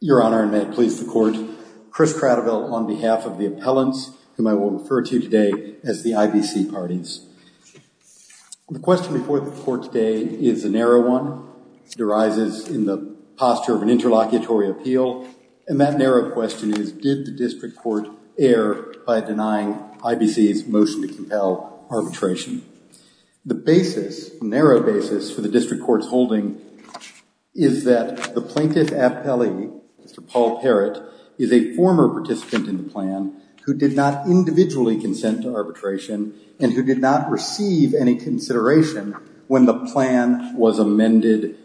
Your Honor and may it please the Court, Chris Cradeville on behalf of the appellants whom I will refer to today as the IBC parties. The question before the Court today is a narrow one. It arises in the posture of an interlocutory appeal, and that narrow question is, did the District Court err by denying IBC's motion to compel arbitration? The basis, the narrow basis for the District Court's holding is that the plaintiff appellee, Mr. Paul Parrott, is a former participant in the plan who did not individually consent to arbitration and who did not receive any consideration when the plan was amended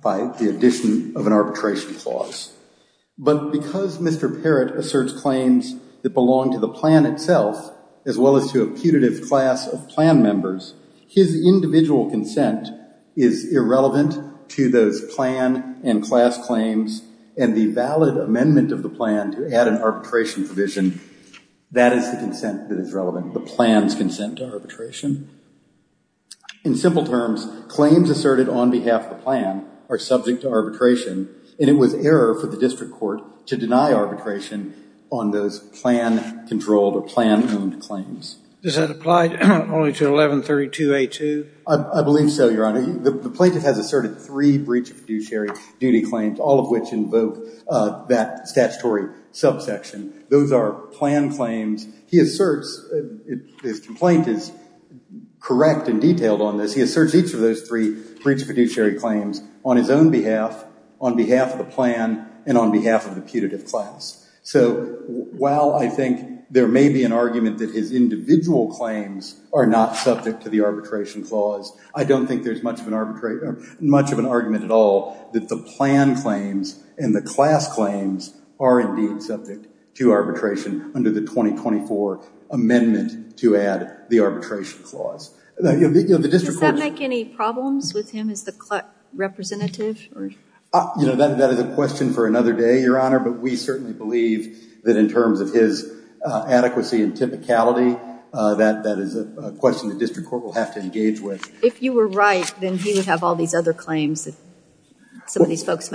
by the addition of an arbitration clause. But because Mr. Parrott asserts claims that belong to the plan itself as well as to a putative class of plan members, his individual consent is irrelevant to those plan and class claims, and the valid amendment of the plan to add an arbitration provision, that is the consent that is relevant, the plan's consent to arbitration. In simple terms, claims asserted on behalf of the plan are subject to arbitration, and it was error for the District Court to deny arbitration on those plan-controlled or plan-owned claims. Does that apply only to 1132A2? I believe so, Your Honor. The plaintiff has asserted three breach of fiduciary duty claims, all of which invoke that statutory subsection. Those are plan claims. He asserts, his complaint is correct and detailed on this, he asserts each of those three breach of fiduciary claims on his own behalf, on behalf of the plan, and on behalf of the putative class. So while I think there may be an argument that his individual claims are not subject to the arbitration clause, I don't think there's much of an argument at all that the plan claims and the class claims are indeed subject to arbitration under the 2024 amendment to add the arbitration clause. Does that make any problems with him as the representative? That is a question for another day, Your Honor, but we certainly believe that in terms of his adequacy and typicality, that is a question the District of Columbia has to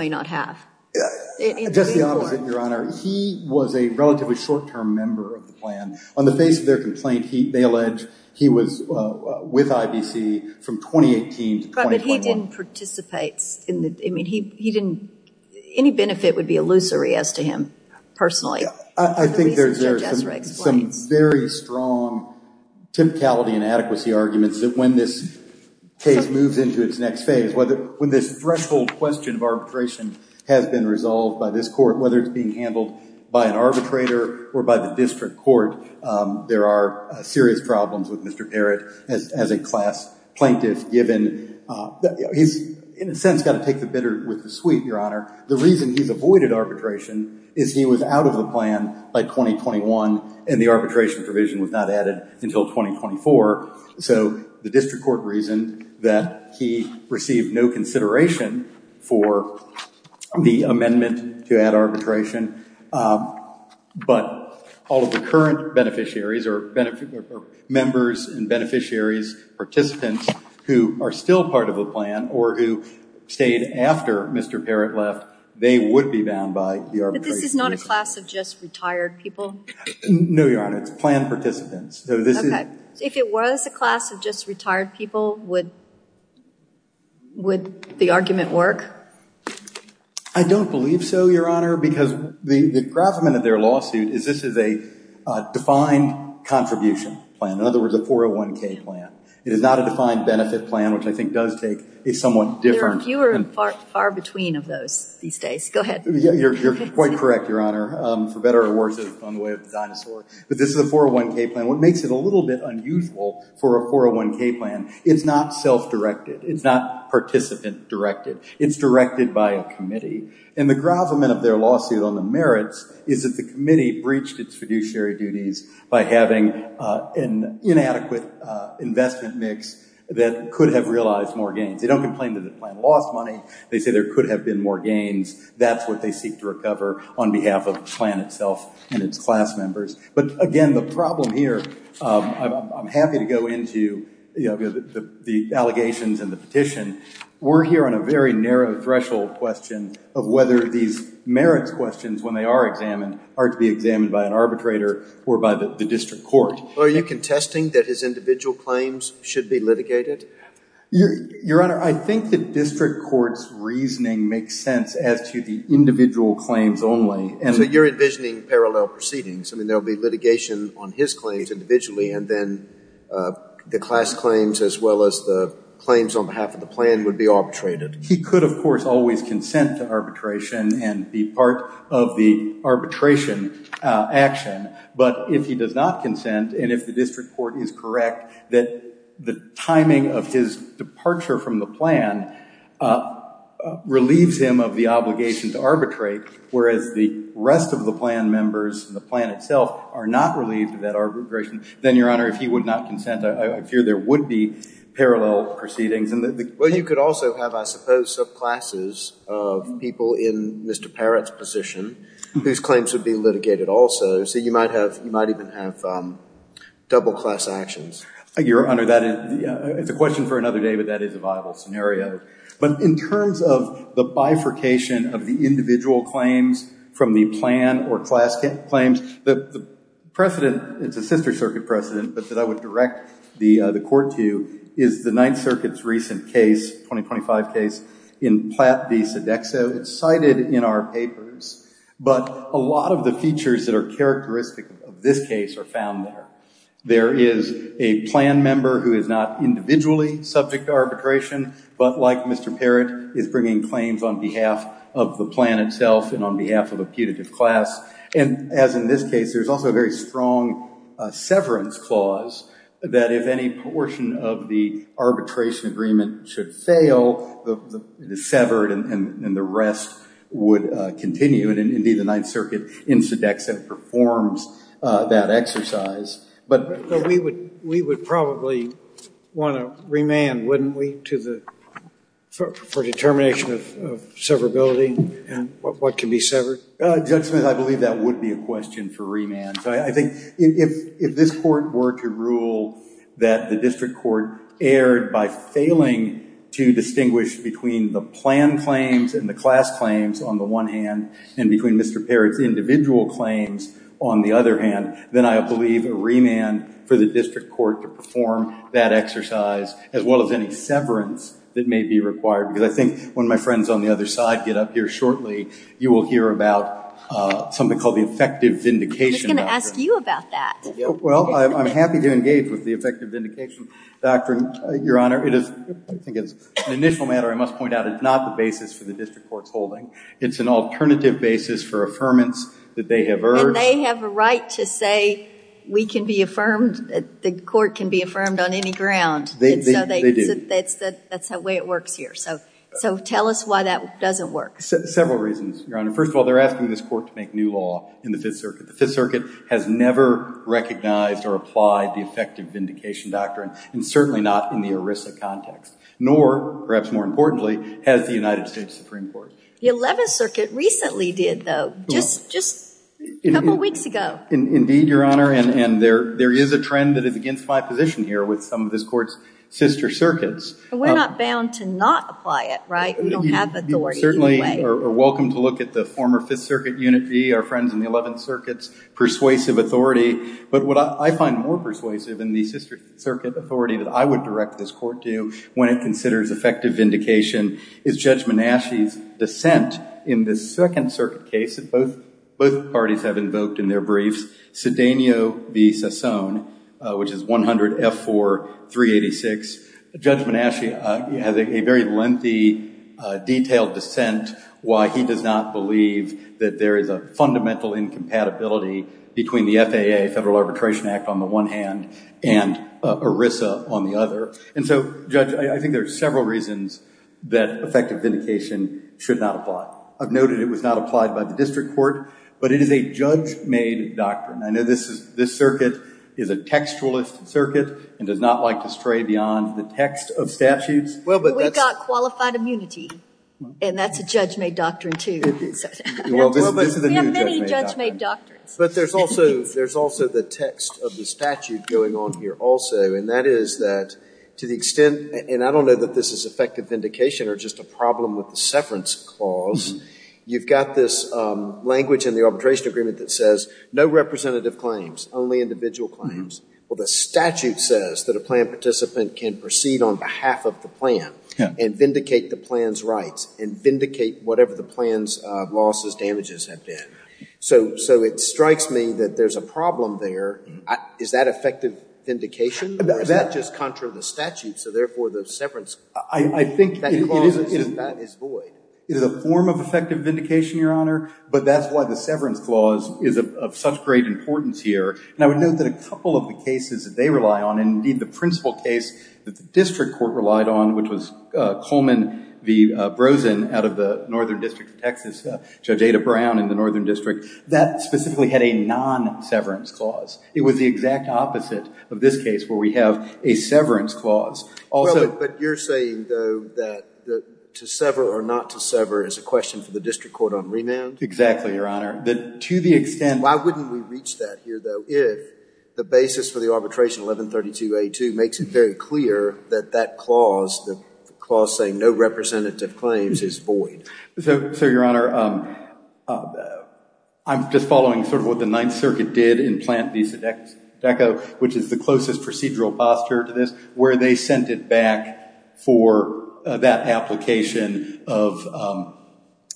answer. Just the opposite, Your Honor. He was a relatively short-term member of the plan. On the face of their complaint, they allege he was with IBC from 2018 to 2021. But he didn't participate. Any benefit would be illusory as to him, personally. I think there's some very strong typicality and adequacy arguments that when this case moves into its next phase, when this threshold question of arbitration has been resolved by this court, whether it's being handled by an arbitrator or by the district court, there are serious problems with Mr. Parrott as a class plaintiff, given that he's, in a sense, got to take the bitter with the sweet, Your Honor. The reason he's avoided arbitration is he was out of the plan by 2021, and the arbitration provision was not added until 2024. So the district court reasoned that he received no consideration for the amendment to add arbitration. But all of the current beneficiaries or members and beneficiaries, participants who are still part of the plan or who stayed after Mr. Parrott left, they would be bound by the arbitration provision. But this is not a class of just retired people? No, Your Honor. It's plan participants. Okay. So if it was a class of just retired people, would the argument work? I don't believe so, Your Honor, because the gravamen of their lawsuit is this is a defined contribution plan. In other words, a 401k plan. It is not a defined benefit plan, which I think does take a somewhat different... There are fewer and far between of those these days. Go ahead. You're quite correct, Your Honor, for better or worse on the way of the dinosaur. But this is a 401k plan. What makes it a little bit unusual for a 401k plan, it's not self-directed. It's not participant-directed. It's directed by a committee. And the gravamen of their lawsuit on the merits is that the committee breached its fiduciary duties by having an inadequate investment mix that could have realized more gains. They don't complain that the plan lost money. They say there could have been more gains. That's what they seek to recover on behalf of the plan itself and its class members. But again, the problem here, I'm happy to go into the allegations and the petition. We're here on a very narrow threshold question of whether these merits questions, when they are examined, are to be examined by an arbitrator or by the district court. Are you contesting that his individual claims should be litigated? Your Honor, I think the district court's reasoning makes sense as to the individual claims only. So you're envisioning parallel proceedings? I mean, there will be litigation on his claims individually, and then the class claims as well as the claims on behalf of the plan would be arbitrated? He could, of course, always consent to arbitration and be part of the arbitration action. But if he does not consent, and if the district court is correct that the timing of his departure from the plan relieves him of the obligation to arbitrate, whereas the rest of the plan members, the plan itself, are not relieved of that arbitration, then, Your Honor, if he would not consent, I fear there would be parallel proceedings. Well, you could also have, I suppose, subclasses of people in Mr. Parrott's position whose claims would be litigated also. So you might even have double class actions. Your Honor, that is a question for another day, but that is a viable scenario. But in terms of the bifurcation of the individual claims from the plan or class claims, the precedent, it's a sister circuit precedent, but that I would direct the court to is the Ninth Circuit's recent case, 2025 case, in Platt v. Sodexo. It's cited in our papers, but a lot of the features that are characteristic of this case are found there. There is a plan member who is not individually subject to arbitration, but like Mr. Parrott, is bringing claims on behalf of the plan itself and on behalf of a putative class. And as in this case, there's also a very strong severance clause that if any portion of the arbitration agreement should fail, it is severed and the rest would continue. And indeed, the Ninth Circuit in Sodexo performs that exercise. But we would probably want to remand, wouldn't we, for determination of severability and what can be severed? Judge Smith, I believe that would be a question for remand. So I think if this Court were to rule that the District Court erred by failing to distinguish between the plan claims and the class claims on the one hand, and between Mr. Parrott's individual claims on the other hand, then I believe a remand for the District Court to perform that exercise as well as any severance that may be required. Because I think when my friends on the other side get up here shortly, you will hear about something called the effective vindication doctrine. I was going to ask you about that. Well, I'm happy to engage with the effective vindication doctrine, Your Honor. I think it's an initial matter I must point out. It's not the basis for the District Court's holding. It's an alternative basis for affirmance that they have urged. And they have a right to say we can be affirmed, the Court can be affirmed on any ground. They do. That's the way it works here. So tell us why that doesn't work. Several reasons, Your Honor. First of all, they're asking this Court to make new law in the Fifth Circuit. The Fifth Circuit has never recognized or applied the effective vindication doctrine, and certainly not in the ERISA context. Nor, perhaps more importantly, has the United States Supreme Court. The Eleventh Circuit recently did, though. Just a couple weeks ago. Indeed, Your Honor. And there is a trend that is against my position here with some of this Court's sister circuits. But we're not bound to not apply it, right? We don't have authority anyway. You're welcome to look at the former Fifth Circuit unit B, our friends in the Eleventh Circuit's persuasive authority. But what I find more persuasive in the sister circuit authority that I would direct this Court to when it considers effective vindication is Judge Menasche's dissent in the Second Circuit case that both parties have invoked in their briefs, Cedeno v. Sassone, which is 100-F4-386. Judge Menasche has a very lengthy, detailed dissent why he does not believe that there is a fundamental incompatibility between the FAA, Federal Arbitration Act, on the one hand, and ERISA on the other. And so, Judge, I think there are several reasons that effective vindication should not apply. I've noted it was not applied by the District Court, but it is a judge-made doctrine. I know this circuit is a textualist circuit and does not like to stray beyond the text of statutes. We've got qualified immunity, and that's a judge-made doctrine, too. We have many judge-made doctrines. But there's also the text of the statute going on here also, and that is that to the extent – and I don't know that this is effective vindication or just a problem with the severance clause – you've got this language in the arbitration agreement that says no representative claims, only individual claims. Well, the statute says that a plan participant can proceed on behalf of the plan and vindicate the plan's rights and vindicate whatever the plan's losses, damages have been. So it strikes me that there's a problem there. Is that effective vindication, or is that just contrary to the statute? So therefore, the severance clause is void. It is a form of effective vindication, Your Honor, but that's why the severance clause is of such great importance here. And I would note that a couple of the cases that they rely on, and indeed the principal case that the district court relied on, which was Coleman v. Brozin out of the Northern District of Texas, Judge Ada Brown in the Northern District, that specifically had a non-severance clause. It was the exact opposite of this case where we have a severance clause. But you're saying, though, that to sever or not to sever is a question for the district court on remand? Exactly, Your Honor. To the extent, why wouldn't we reach that here, though, if the basis for the arbitration 1132A2 makes it very clear that that clause, the clause saying no representative claims, is void? So, Your Honor, I'm just following sort of what the Ninth Circuit did in Plant v. Sodecco, which is the closest procedural posture to this, where they sent it back for that application of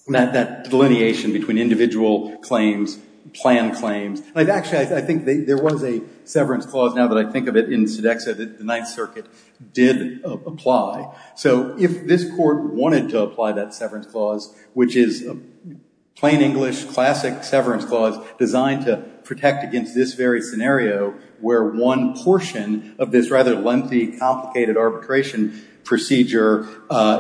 that delineation between individual claims, planned claims. Actually, I think there was a severance clause, now that I think of it, in Sodecco that the Ninth Circuit did apply. So if this court wanted to apply that severance clause, which is plain English, classic severance clause, designed to protect against this very scenario, where one portion of this rather lengthy, complicated arbitration procedure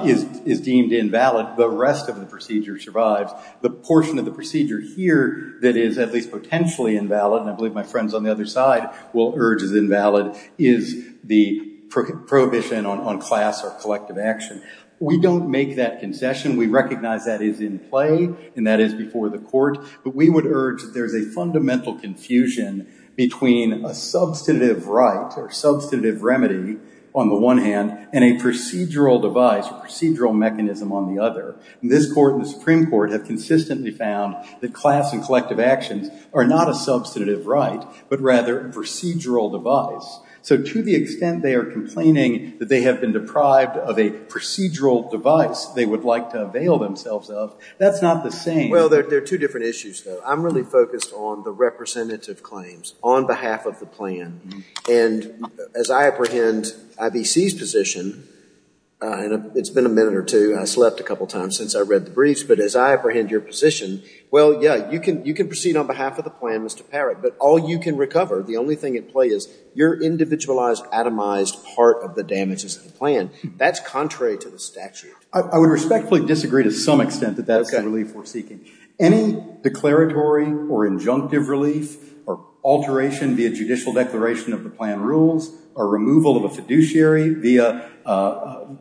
is deemed invalid, the rest of the procedure survives. The portion of the procedure here that is at least potentially invalid, and I believe my friends on the other side will urge is invalid, is the prohibition on class or collective action. We don't make that concession. We recognize that is in play, and that is before the court. But we would urge that there is a fundamental confusion between a substantive right or substantive remedy on the one hand, and a procedural device, a procedural mechanism on the other. This court and the Supreme Court have consistently found that class and collective actions are not a substantive right, but rather a procedural device. So to the extent they are complaining that they have been deprived of a procedural device they would like to avail themselves of, that's not the same. Well, there are two different issues, though. I'm really focused on the representative claims on behalf of the plan. And as I apprehend IBC's position, and it's been a minute or two, and I slept a couple times since I read the briefs, but as I apprehend your position, well, yeah, you can proceed on behalf of the plan, Mr. Parrott, but all you can recover, the only thing at play is your individualized, atomized part of the damages of the plan. That's contrary to the statute. I would respectfully disagree to some extent that that's the relief we're seeking. Any declaratory or injunctive relief or alteration via judicial declaration of the plan rules, or removal of a fiduciary via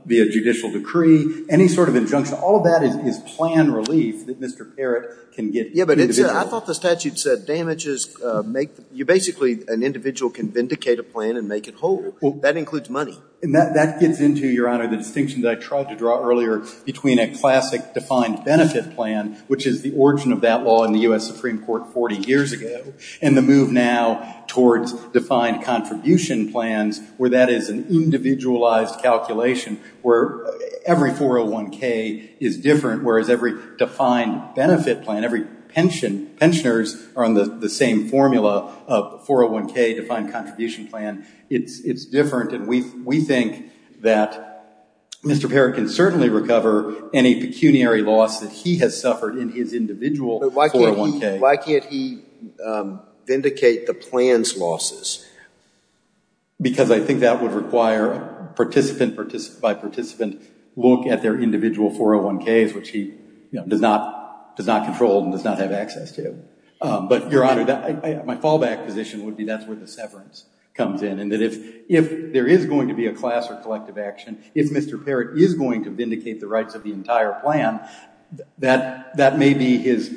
judicial decree, any sort of injunction, all of that is plan relief that Mr. Parrott can get. Yeah, but I thought the statute said damages make, you basically, an individual can vindicate a plan and make it whole. That includes money. And that gets into, Your Honor, the distinction that I tried to draw earlier between a classic defined benefit plan, which is the origin of that law in the U.S. Supreme Court 40 years ago, and the move now towards defined contribution plans, where that is an individualized calculation, where every 401k is different, whereas every defined benefit plan, every pension, pensioners are on the same formula of 401k defined contribution plan. It's different. And we think that Mr. Parrott can certainly recover any pecuniary loss that he has suffered in his individual 401k. Why can't he vindicate the plan's losses? Because I think that would require participant by participant look at their individual 401ks, which he does not control and does not have access to. But Your Honor, my fallback position would be that's where the severance comes in. And that if there is going to be a class or collective action, if Mr. Parrott is going to vindicate the rights of the entire plan, that may be his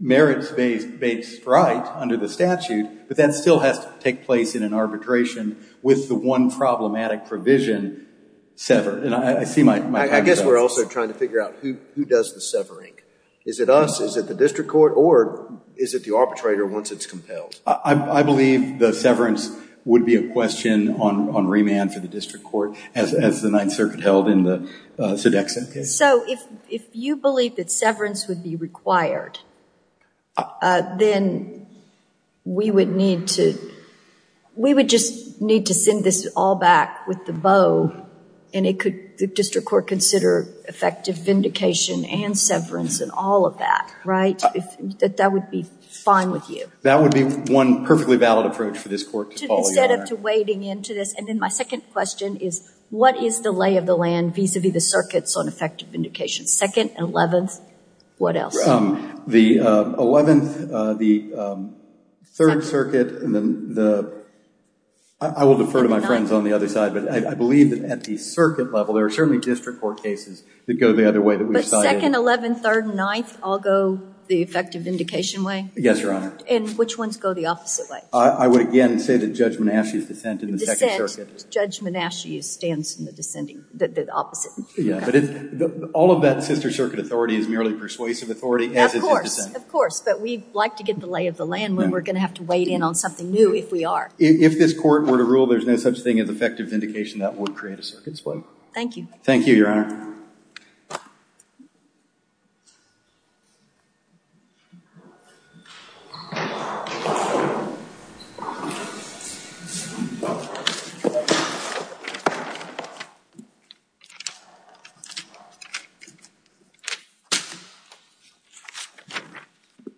merits-based right under the But that still has to take place in an arbitration with the one problematic provision severed. And I see my time's up. I think we're also trying to figure out who does the severing. Is it us? Is it the district court? Or is it the arbitrator once it's compelled? I believe the severance would be a question on remand for the district court, as the Ninth Circuit held in the Sodexo case. So if you believe that severance would be required, then we would need to, we would the district court consider effective vindication and severance and all of that, right? That would be fine with you. That would be one perfectly valid approach for this court to follow, Your Honor. Instead of wading into this. And then my second question is, what is the lay of the land vis-a-vis the circuits on effective vindication? Second, 11th, what else? The 11th, the Third Circuit, and then the, I will defer to my friends on the other side, but I believe that at the circuit level, there are certainly district court cases that go the other way that we've cited. But Second, 11th, Third, and Ninth all go the effective vindication way? Yes, Your Honor. And which ones go the opposite way? I would again say that Judge Menasche's dissent in the Second Circuit. Judge Menasche stands in the dissenting, the opposite. Yeah, but all of that Sister Circuit authority is merely persuasive authority as is his dissent. Of course, of course. But we'd like to get the lay of the land when we're going to have to wade in on something new if we are. If this court were to rule there's no such thing as effective vindication, that would create a circuit split. Thank you. Thank you, Your Honor.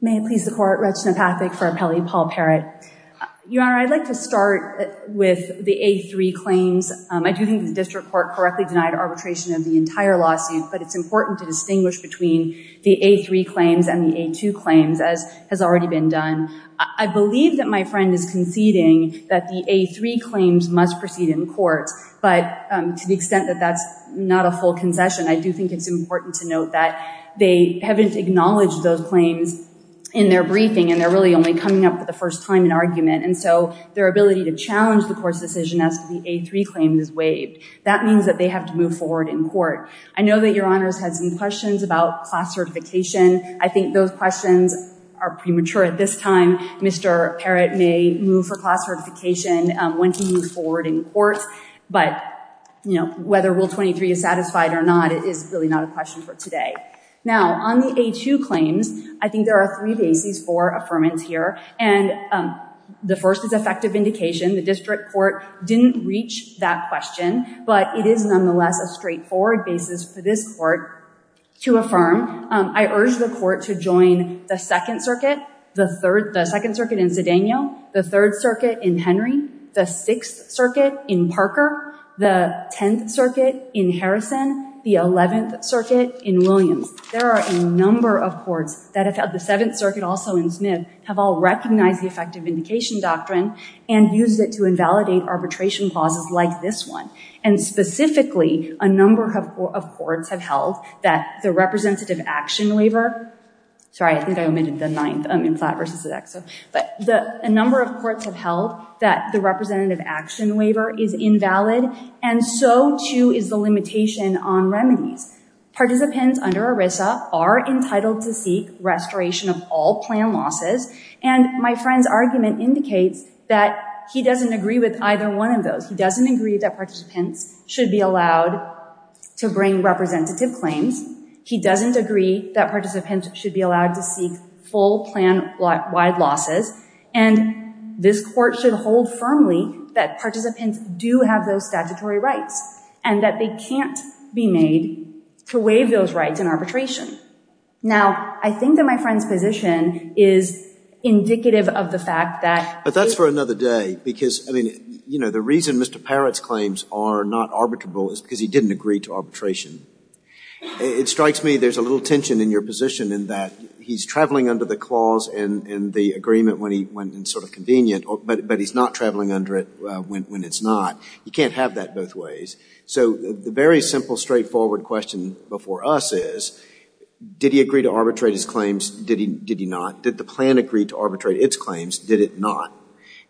May it please the Court, Reginald Patrick for Appellee Paul Parrott. Your Honor, I'd like to start with the A3 claims. I do think the district court correctly denied arbitration of the entire lawsuit, but it's important to distinguish between the A3 claims and the A2 claims as has already been done. I believe that my friend is conceding that the A3 claims must proceed in court. But to the extent that that's not a full concession, I do think it's important to note that they haven't acknowledged those claims in their briefing and they're really only coming up for the first time in argument, and so their ability to challenge the court's decision as to the A3 claim is waived. That means that they have to move forward in court. I know that Your Honors had some questions about class certification. I think those questions are premature at this time. Mr. Parrott may move for class certification when he moves forward in court, but whether Rule 23 is satisfied or not is really not a question for today. Now, on the A2 claims, I think there are three bases for affirmance here, and the first is effective indication. The district court didn't reach that question, but it is nonetheless a straightforward basis for this court to affirm. I urge the court to join the Second Circuit, the Second Circuit in Zedeno, the Third Circuit in Henry, the Sixth Circuit in Parker, the Tenth Circuit in Harrison, the Eleventh Circuit in Williams. There are a number of courts that have held the Seventh Circuit, also in Smith, have all recognized the effective indication doctrine and used it to invalidate arbitration clauses like this one, and specifically, a number of courts have held that the representative action waiver, sorry, I think I omitted the ninth in Platt v. Zdeck, but a number of courts have held that the representative action waiver is invalid, and so too is the limitation on remedies. Participants under ERISA are entitled to seek restoration of all plan losses, and my friend's argument indicates that he doesn't agree with either one of those. He doesn't agree that participants should be allowed to bring representative claims. He doesn't agree that participants should be allowed to seek full plan-wide losses, and this Court should hold firmly that participants do have those statutory rights, and that they can't be made to waive those rights in arbitration. Now, I think that my friend's position is indicative of the fact that he — But that's for another day, because, I mean, you know, the reason Mr. Parrott's claims are not arbitrable is because he didn't agree to arbitration. It strikes me there's a little tension in your position in that he's traveling under the clause and the agreement when it's sort of convenient, but he's not traveling under it when it's not. You can't have that both ways. So the very simple, straightforward question before us is, did he agree to arbitrate his Did he not? Did the plan agree to arbitrate its claims? Did it not?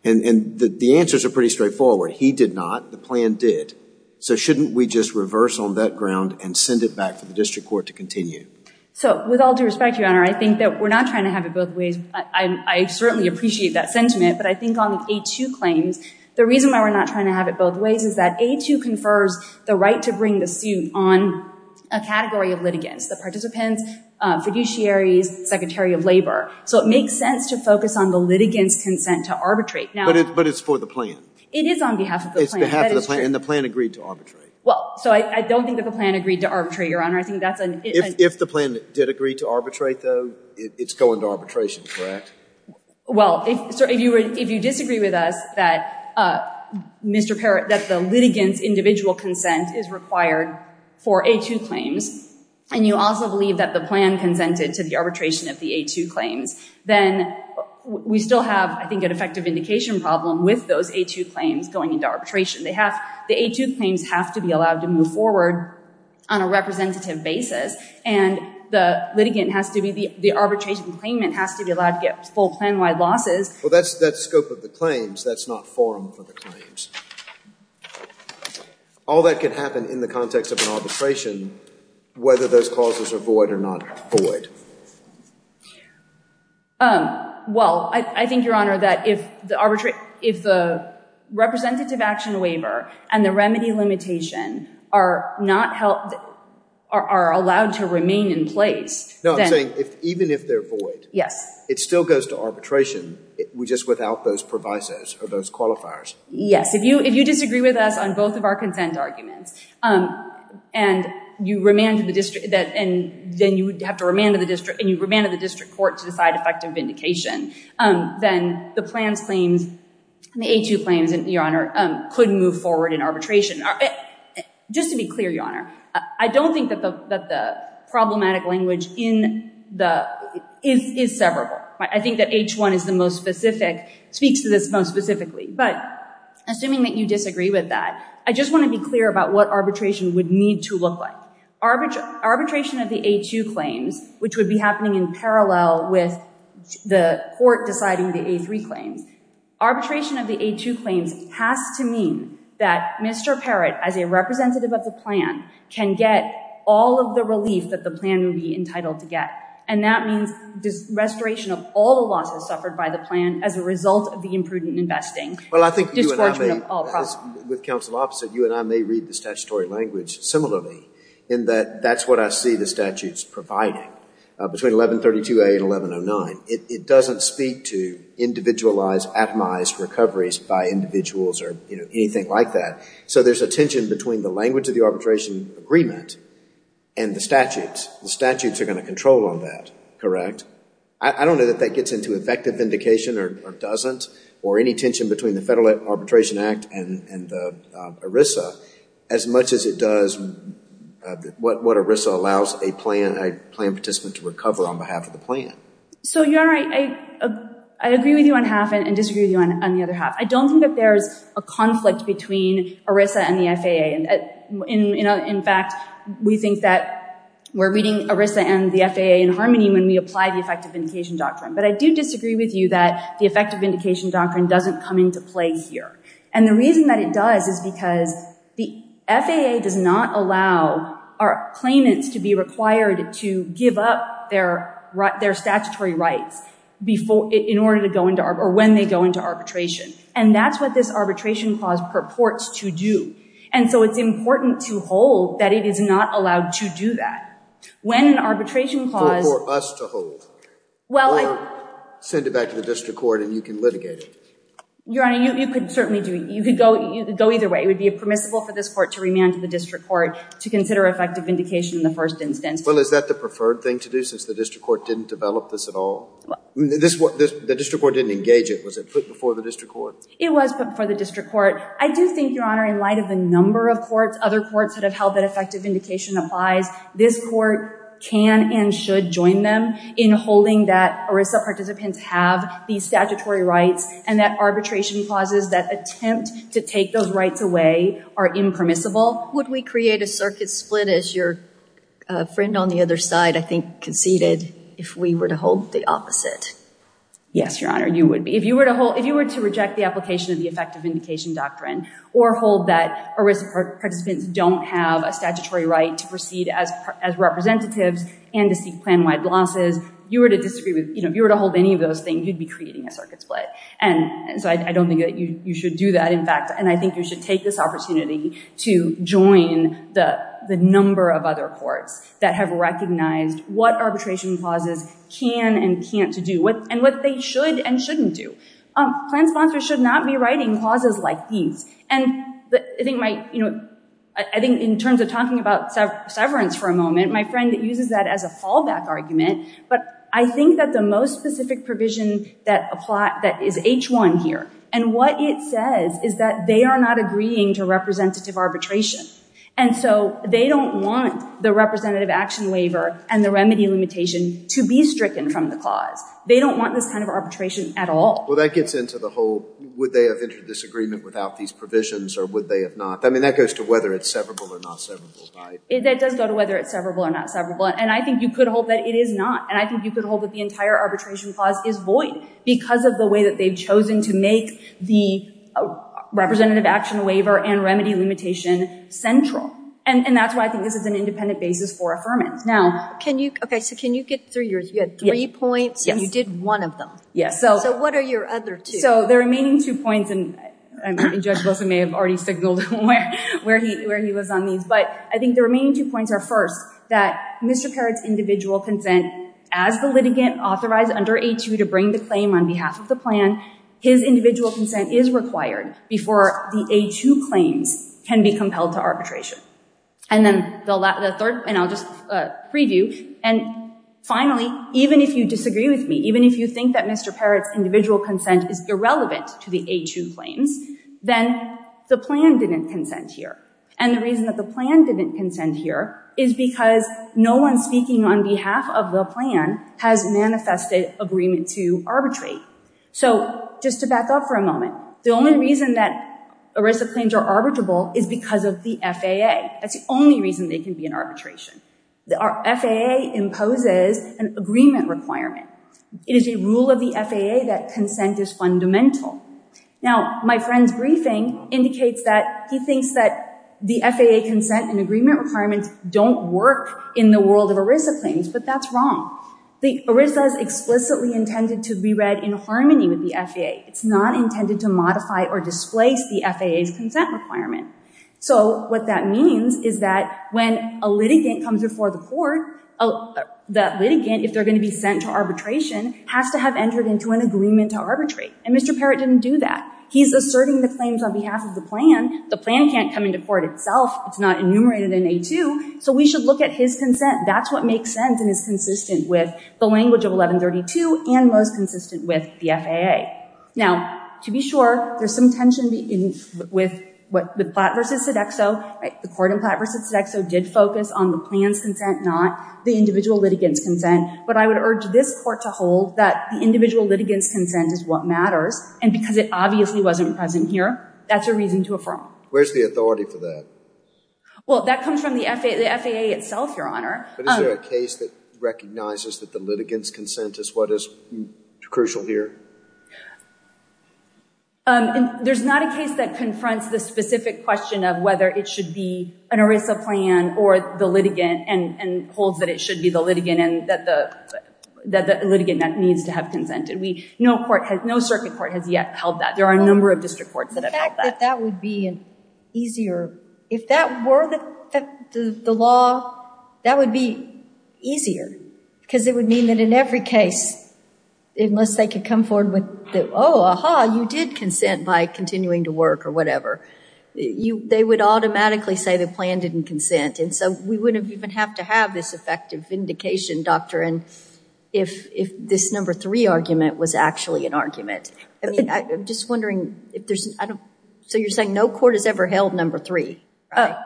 And the answers are pretty straightforward. He did not. The plan did. So shouldn't we just reverse on that ground and send it back for the district court to continue? So with all due respect, Your Honor, I think that we're not trying to have it both ways. I certainly appreciate that sentiment, but I think on the A2 claims, the reason why we're not trying to have it both ways is that A2 confers the right to bring the suit on a category of litigants, the participants, fiduciaries, secretary of labor. So it makes sense to focus on the litigants' consent to arbitrate. But it's for the plan. It is on behalf of the plan. That is true. It's on behalf of the plan. And the plan agreed to arbitrate. Well, so I don't think that the plan agreed to arbitrate, Your Honor. If the plan did agree to arbitrate, though, it's going to arbitration, correct? Well, if you disagree with us that the litigants' individual consent is required for A2 claims, and you also believe that the plan consented to the arbitration of the A2 claims, then we still have, I think, an effective indication problem with those A2 claims going into arbitration. They have, the A2 claims have to be allowed to move forward on a representative basis. And the litigant has to be, the arbitration claimant has to be allowed to get full plan-wide losses. Well, that's, that's scope of the claims. That's not forum for the claims. All that can happen in the context of an arbitration, whether those causes are void or not void. Well, I think, Your Honor, that if the arbitrate, if the representative action waiver and the remedy limitation are not held, are allowed to remain in place, then. No, I'm saying, even if they're void, it still goes to arbitration, just without those provisos or those qualifiers. Yes. If you disagree with us on both of our consent arguments, and you remanded the district, and then you have to remand to the district, and you remanded the district court to decide effective vindication, then the plans claims, the A2 claims, Your Honor, couldn't move forward in arbitration. Just to be clear, Your Honor, I don't think that the problematic language in the, is severable. I think that H1 is the most specific, speaks to this most specifically. But assuming that you disagree with that, I just want to be clear about what arbitration would need to look like. Arbitration of the A2 claims, which would be happening in parallel with the court deciding the A3 claims, arbitration of the A2 claims has to mean that Mr. Parrott, as a representative of the plan, can get all of the relief that the plan would be entitled to get. And that means restoration of all the losses suffered by the plan as a result of the imprudent investing. Well, I think you and I may, with counsel opposite, you and I may read the statutory language similarly in that that's what I see the statutes providing between 1132A and 1109. It doesn't speak to individualized, atomized recoveries by individuals or, you know, anything like that. So there's a tension between the language of the arbitration agreement and the statutes. The statutes are going to control all that, correct? I don't know that that gets into effective vindication or doesn't, or any tension between the Federal Arbitration Act and ERISA as much as it does what ERISA allows a plan participant to recover on behalf of the plan. So Your Honor, I agree with you on half and disagree with you on the other half. I don't think that there's a conflict between ERISA and the FAA. In fact, we think that we're reading ERISA and the FAA in harmony when we apply the effective vindication doctrine. But I do disagree with you that the effective vindication doctrine doesn't come into play here. And the reason that it does is because the FAA does not allow our claimants to be required to give up their statutory rights in order to go into, or when they go into arbitration. And that's what this arbitration clause purports to do. And so it's important to hold that it is not allowed to do that. When an arbitration clause- It's for us to hold. Well, I- Or send it back to the district court and you can litigate it. Your Honor, you could certainly do it. You could go either way. It would be permissible for this court to remand to the district court to consider effective vindication in the first instance. Well, is that the preferred thing to do since the district court didn't develop this at all? The district court didn't engage it. Was it put before the district court? It was put before the district court. I do think, Your Honor, in light of the number of courts, other courts that have held that effective vindication applies, this court can and should join them in holding that ERISA participants have these statutory rights and that arbitration clauses that attempt to take those rights away are impermissible. Would we create a circuit split, as your friend on the other side, I think, conceded, if we were to hold the opposite? Yes, Your Honor, you would be. If you were to hold- if you were to reject the application of the effective vindication doctrine or hold that ERISA participants don't have a statutory right to proceed as representatives and to seek plan-wide losses, you were to disagree with- if you were to hold any of those things, you'd be creating a circuit split. So I don't think that you should do that, in fact, and I think you should take this opportunity to join the number of other courts that have recognized what arbitration clauses can and can't do and what they should and shouldn't do. Plan sponsors should not be writing clauses like these, and I think my- I think in terms of talking about severance for a moment, my friend uses that as a fallback argument, but I think that the most specific provision that is H1 here, and what it says is that they are not agreeing to representative arbitration, and so they don't want the representative action waiver and the remedy limitation to be stricken from the clause. They don't want this kind of arbitration at all. Well, that gets into the whole, would they have entered this agreement without these provisions or would they have not? I mean, that goes to whether it's severable or not severable, right? That does go to whether it's severable or not severable, and I think you could hold that it is not, and I think you could hold that the entire arbitration clause is void because of the way that they've chosen to make the representative action waiver and remedy limitation central, and that's why I think this is an independent basis for affirmance. Now, can you- okay, so can you get through your- you had three points, and you did one of them. Yes. So what are your other two? So the remaining two points, and Judge Wilson may have already signaled where he was on these, but I think the remaining two points are, first, that Mr. Parrott's individual consent as the litigant authorized under A2 to bring the claim on behalf of the plan, his individual consent is required before the A2 claims can be compelled to arbitration, and then the third, and I'll just preview, and finally, even if you disagree with me, even if you think that Mr. Parrott's individual consent is irrelevant to the A2 claims, then the plan didn't consent here, and the reason that the plan didn't consent here is because no one speaking on behalf of the plan has manifested agreement to arbitrate. So just to back up for a moment, the only reason that ERISA claims are arbitrable is because of the FAA. That's the only reason they can be in arbitration. Our FAA imposes an agreement requirement. It is a rule of the FAA that consent is fundamental. Now, my friend's briefing indicates that he thinks that the FAA consent and agreement requirements don't work in the world of ERISA claims, but that's wrong. The ERISA is explicitly intended to be read in harmony with the FAA. It's not intended to modify or displace the FAA's consent requirement. So what that means is that when a litigant comes before the court, the litigant, if they're going to be sent to arbitration, has to have entered into an agreement to arbitrate, and Mr. Parrott didn't do that. He's asserting the claims on behalf of the plan. The plan can't come into court itself. It's not enumerated in A2, so we should look at his consent. That's what makes sense and is consistent with the language of 1132 and most consistent with the FAA. Now, to be sure, there's some tension with Platt v. Sodexo. The court in Platt v. Sodexo did focus on the plan's consent, not the individual litigant's consent, but I would urge this court to hold that the individual litigant's consent is what matters, and because it obviously wasn't present here, that's a reason to affirm. Where's the authority for that? Well, that comes from the FAA itself, Your Honor. But is there a case that recognizes that the litigant's consent is what is crucial here? There's not a case that confronts the specific question of whether it should be an ERISA plan or the litigant and holds that it should be the litigant and that the litigant needs to have consented. No circuit court has yet held that. There are a number of district courts that have held that. The fact that that would be easier, if that were the law, that would be easier because it would mean that in every case, unless they could come forward with, oh, aha, you did consent by continuing to work or whatever, they would automatically say the plan didn't consent, and so we wouldn't even have to have this effective vindication doctrine if this number three argument was actually an argument. I mean, I'm just wondering if there's, so you're saying no court has ever held number three, right?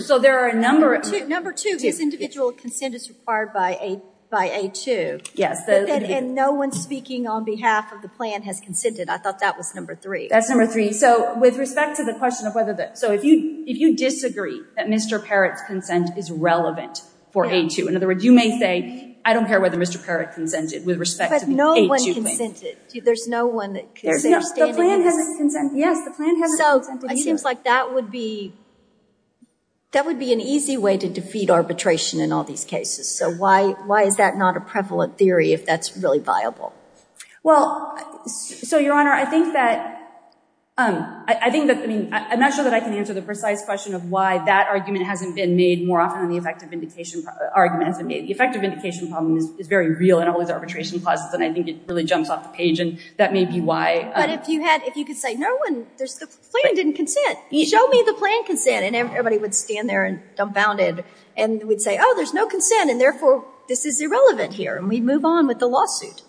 So there are a number of... Number two, this individual consent is required by A2. Yes. And no one speaking on behalf of the plan has consented. I thought that was number three. That's number three. So with respect to the question of whether the, so if you disagree that Mr. Parrott's consent is relevant for A2, in other words, you may say, I don't care whether Mr. Parrott consented with respect to the A2 plan. But no one consented. There's no one that consented. The plan hasn't consented. Yes, the plan hasn't consented. So it seems like that would be an easy way to defeat arbitration in all these cases. So why is that not a prevalent theory if that's really viable? Well, so Your Honor, I think that, I mean, I'm not sure that I can answer the precise question of why that argument hasn't been made more often than the effective vindication argument hasn't been made. The effective vindication problem is very real in all these arbitration clauses, and I think it really jumps off the page, and that may be why. But if you had, if you could say, no one, there's, the plan didn't consent. Show me the plan consent, and everybody would stand there and dumbfounded, and we'd say, oh, there's no consent, and therefore this is irrelevant here, and we'd move on with the lawsuit.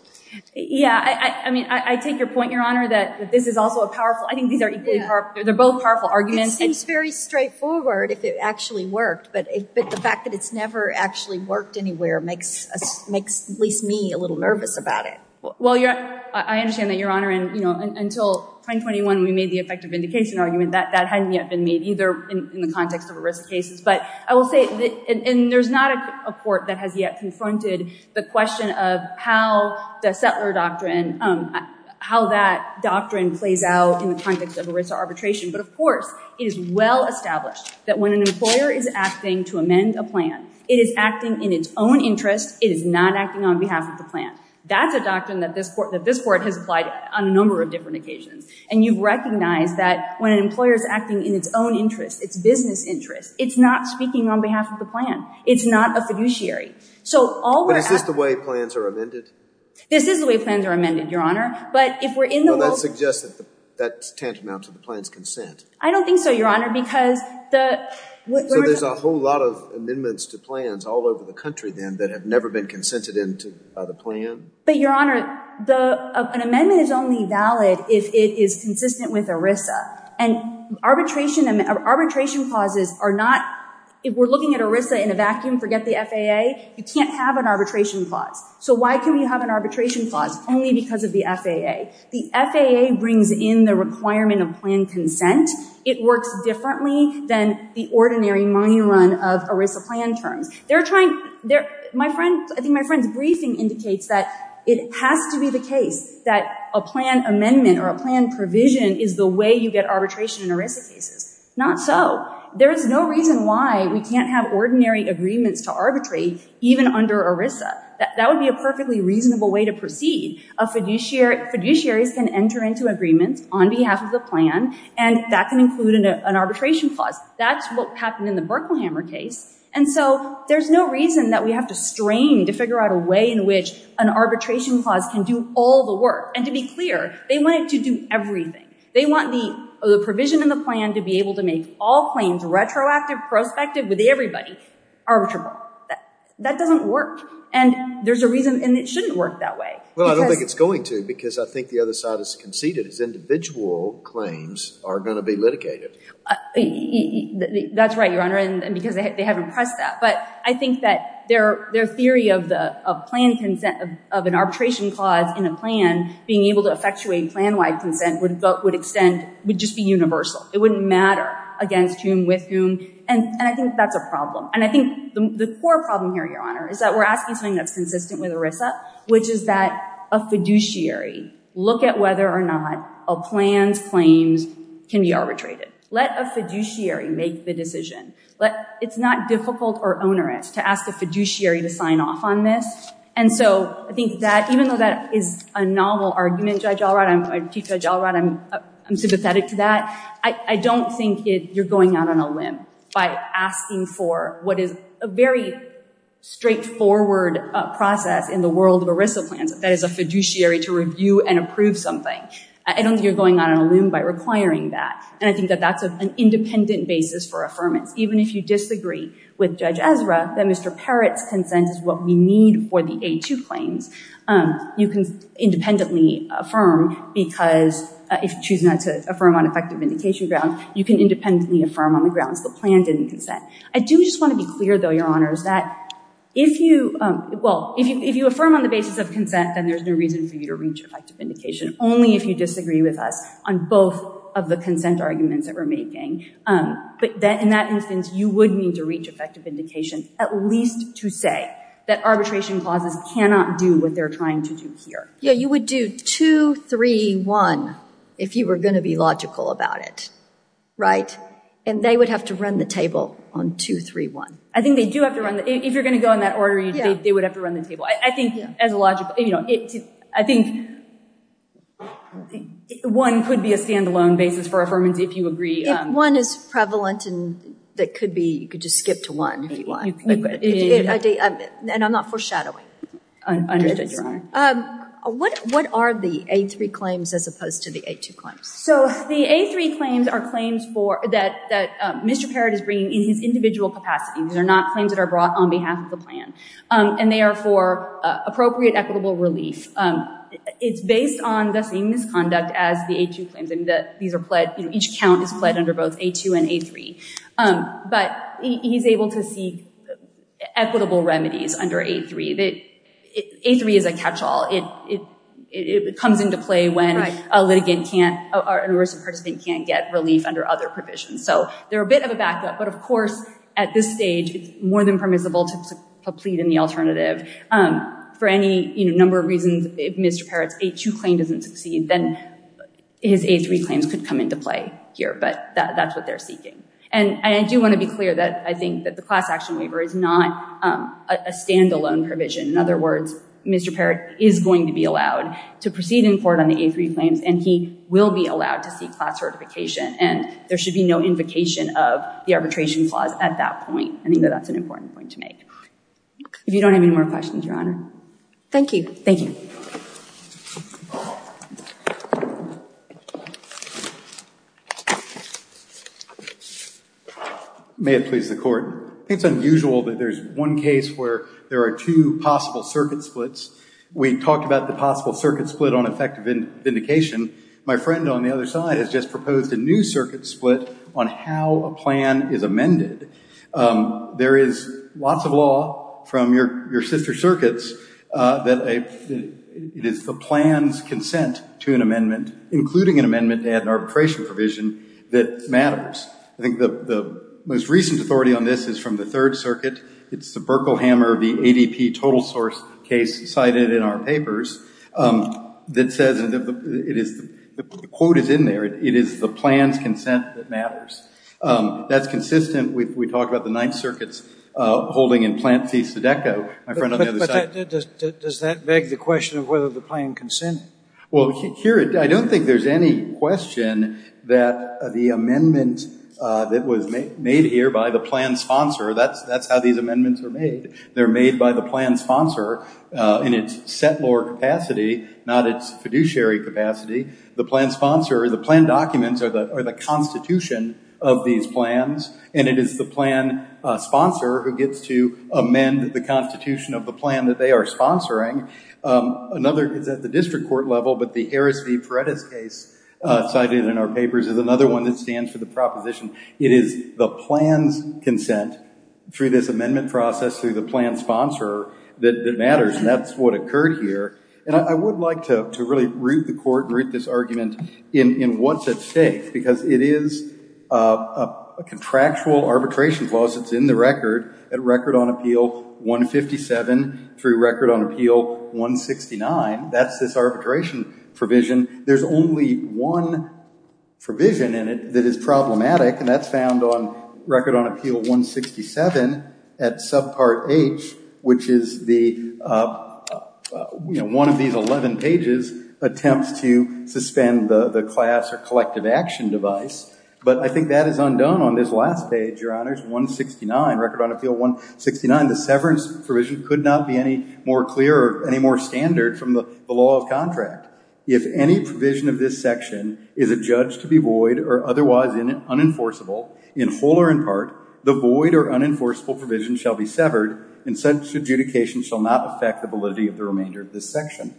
Yeah, I mean, I take your point, Your Honor, that this is also a powerful, I think these are equally powerful, they're both powerful arguments. It seems very straightforward if it actually worked, but the fact that it's never actually worked anywhere makes at least me a little nervous about it. Well, I understand that, Your Honor, and until 2021, we made the effective vindication argument, that hadn't yet been made either in the context of ERISA cases, but I will say, and there's not a court that has yet confronted the question of how the settler doctrine, how that doctrine plays out in the context of ERISA arbitration. But of course, it is well established that when an employer is asking to amend a plan, it is acting in its own interest, it is not acting on behalf of the plan. That's a doctrine that this court has applied on a number of different occasions. And you've recognized that when an employer is acting in its own interest, its business interest, it's not speaking on behalf of the plan. It's not a fiduciary. So all we're asking... But is this the way plans are amended? This is the way plans are amended, Your Honor, but if we're in the world... Well, that suggests that that tantamounts to the plan's consent. I don't think so, Your Honor, because the... So there's a whole lot of amendments to plans all over the country, then, that have never been consented into the plan. But, Your Honor, an amendment is only valid if it is consistent with ERISA. And arbitration clauses are not... If we're looking at ERISA in a vacuum, forget the FAA, you can't have an arbitration clause. So why can we have an arbitration clause? Only because of the FAA. The FAA brings in the requirement of plan consent. It works differently than the ordinary money run of ERISA plan terms. I think my friend's briefing indicates that it has to be the case that a plan amendment or a plan provision is the way you get arbitration in ERISA cases. Not so. There is no reason why we can't have ordinary agreements to arbitrate even under ERISA. That would be a perfectly reasonable way to proceed. A fiduciary... Fiduciaries can enter into agreements on behalf of the plan, and that can include an arbitration clause. That's what happened in the Berkelhammer case. And so there's no reason that we have to strain to figure out a way in which an arbitration clause can do all the work. And to be clear, they want it to do everything. They want the provision in the plan to be able to make all claims retroactive, prospective with everybody, arbitrable. That doesn't work. And there's a reason... And it shouldn't work that way. Well, I don't think it's going to because I think the other side has conceded. It's individual claims are going to be litigated. That's right, Your Honor. And because they haven't pressed that. But I think that their theory of the plan consent of an arbitration clause in a plan being able to effectuate plan-wide consent would extend... Would just be universal. It wouldn't matter against whom, with whom. And I think that's a problem. And I think the core problem here, Your Honor, is that we're asking something that's consistent with ERISA, which is that a fiduciary look at whether or not a plan's claims can be let a fiduciary make the decision. It's not difficult or onerous to ask a fiduciary to sign off on this. And so, I think that even though that is a novel argument, Judge Allright, I'm sympathetic to that. I don't think you're going out on a limb by asking for what is a very straightforward process in the world of ERISA plans. That is a fiduciary to review and approve something. I don't think you're going out on a limb by requiring that. And I think that that's an independent basis for affirmance. Even if you disagree with Judge Ezra that Mr. Parrott's consent is what we need for the A2 claims, you can independently affirm because if you choose not to affirm on effective vindication grounds, you can independently affirm on the grounds the plan didn't consent. I do just want to be clear, though, Your Honors, that if you... Well, if you affirm on the basis of consent, then there's no reason for you to reach effective vindication. Only if you disagree with us on both of the consent arguments that we're making. But in that instance, you would need to reach effective vindication at least to say that arbitration clauses cannot do what they're trying to do here. Yeah, you would do 2-3-1 if you were going to be logical about it, right? And they would have to run the table on 2-3-1. I think they do have to run the... If you're going to go in that order, they would have to run the table. I think as a logical... I think one could be a stand-alone basis for affirmance if you agree. If one is prevalent and that could be, you could just skip to one if you want. And I'm not foreshadowing. Understood, Your Honor. What are the A3 claims as opposed to the A2 claims? So the A3 claims are claims that Mr. Parrott is bringing in his individual capacity. These are not claims that are brought on behalf of the plan. And they are for appropriate equitable relief. It's based on the same misconduct as the A2 claims in that these are pledged. Each count is pledged under both A2 and A3. But he's able to seek equitable remedies under A3. A3 is a catch-all. It comes into play when a litigant can't... or a person can't get relief under other provisions. So they're a bit of a backup. But, of course, at this stage, it's more than permissible to plead in the alternative. For any number of reasons, if Mr. Parrott's A2 claim doesn't succeed, then his A3 claims could come into play here. But that's what they're seeking. And I do want to be clear that I think that the class action waiver is not a stand-alone provision. In other words, Mr. Parrott is going to be allowed to proceed in court on the A3 claims. And he will be allowed to seek class certification. And there should be no invocation of the arbitration clause at that point. I think that that's an important point to make. If you don't have any more questions, Your Honor. Thank you. May it please the Court. I think it's unusual that there's one case where there are two possible circuit splits. We talked about the possible circuit split on effective vindication. My friend on the other side has just proposed a new circuit split on how a plan is amended. There is lots of law from your sister circuits that it is the plan's consent to an amendment, including an amendment to add an arbitration provision, that matters. I think the most recent authority on this is from the Third Circuit. It's the Berkelhammer of the ADP total source case cited in our papers that says the quote is in there. It is the plan's consent that matters. That's consistent. We talked about the Ninth Circuit's holding in Plan C Sodecco. My friend on the other side. But does that beg the question of whether the plan consented? Well, here I don't think there's any question that the amendment that was made here by the plan sponsor, that's how these amendments are made. They're made by the plan sponsor in its settlor capacity, not its fiduciary capacity. The plan sponsor or the plan documents are the constitution of these plans, and it is the plan sponsor who gets to amend the constitution of the plan that they are sponsoring. Another is at the district court level, but the Harris v. Paredes case cited in our papers is another one that stands for the proposition. It is the plan's consent through this amendment process through the plan sponsor that matters, and that's what occurred here. And I would like to really root the court and root this argument in what's at stake, because it is a contractual arbitration clause that's in the record at Record on Appeal 157 through Record on Appeal 169. That's this arbitration provision. There's only one provision in it that is problematic, and that's found on Record on Appeal 167 at subpart H, which is one of these 11 pages attempts to suspend the class or collective action device. But I think that is undone on this last page, Your Honors, 169, Record on Appeal 169. Again, the severance provision could not be any more clear or any more standard from the law of contract. If any provision of this section is adjudged to be void or otherwise unenforceable in whole or in part, the void or unenforceable provision shall be severed, and such adjudication shall not affect the validity of the remainder of this section.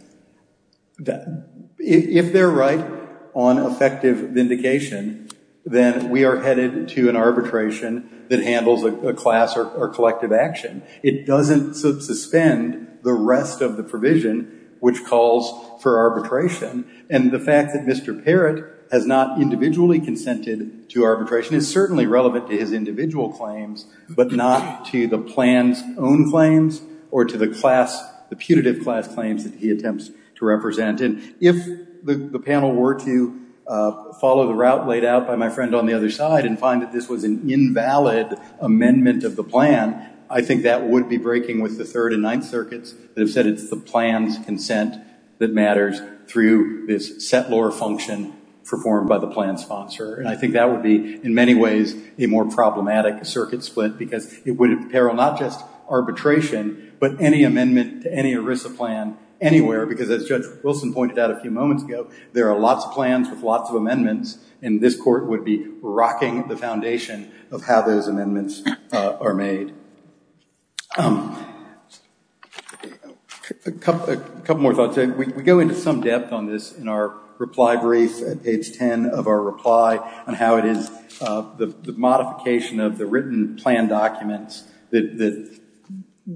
If they're right on effective vindication, then we are headed to an arbitration that handles a class or collective action. It doesn't suspend the rest of the provision, which calls for arbitration. And the fact that Mr. Parrott has not individually consented to arbitration is certainly relevant to his individual claims, but not to the plan's own claims or to the class, the punitive class claims that he attempts to represent. And if the panel were to follow the route laid out by my friend on the other side and find that this was an invalid amendment of the plan, I think that would be breaking with the Third and Ninth Circuits that have said it's the plan's consent that matters through this settlor function performed by the plan sponsor. And I think that would be, in many ways, a more problematic circuit split, because it would imperil not just arbitration, but any amendment to any ERISA plan anywhere, because as Judge Wilson pointed out a few moments ago, there are lots of plans with lots of amendments, and this Court would be rocking the foundation of how those amendments are made. A couple more thoughts. We go into some depth on this in our reply brief at page 10 of our reply and how it is the modification of the written plan documents that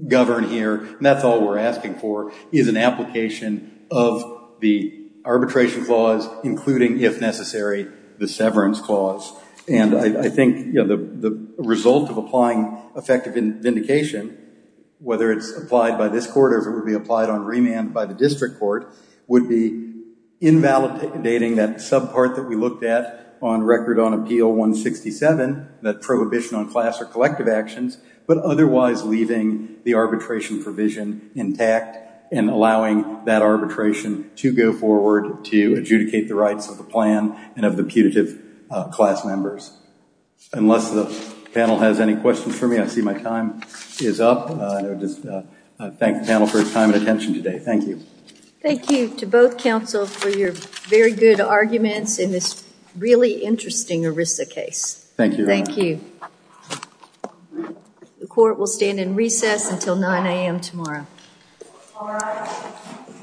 govern here, and that's all we're asking for, is an application of the arbitration clause, including, if necessary, the severance clause. And I think the result of applying effective vindication, whether it's applied by this Court or whether it would be applied on remand by the District Court, would be invalidating that subpart that we looked at on Record on Appeal 167, that prohibition on class or collective actions, but otherwise leaving the arbitration provision intact and allowing that arbitration to go forward to adjudicate the rights of the plan and of the putative class members. Unless the panel has any questions for me, I see my time is up. I thank the panel for their time and attention today. Thank you. Thank you to both counsel for your very good arguments in this really interesting ERISA case. Thank you, Your Honor. Thank you. The Court will stand in recess until 9 a.m. tomorrow.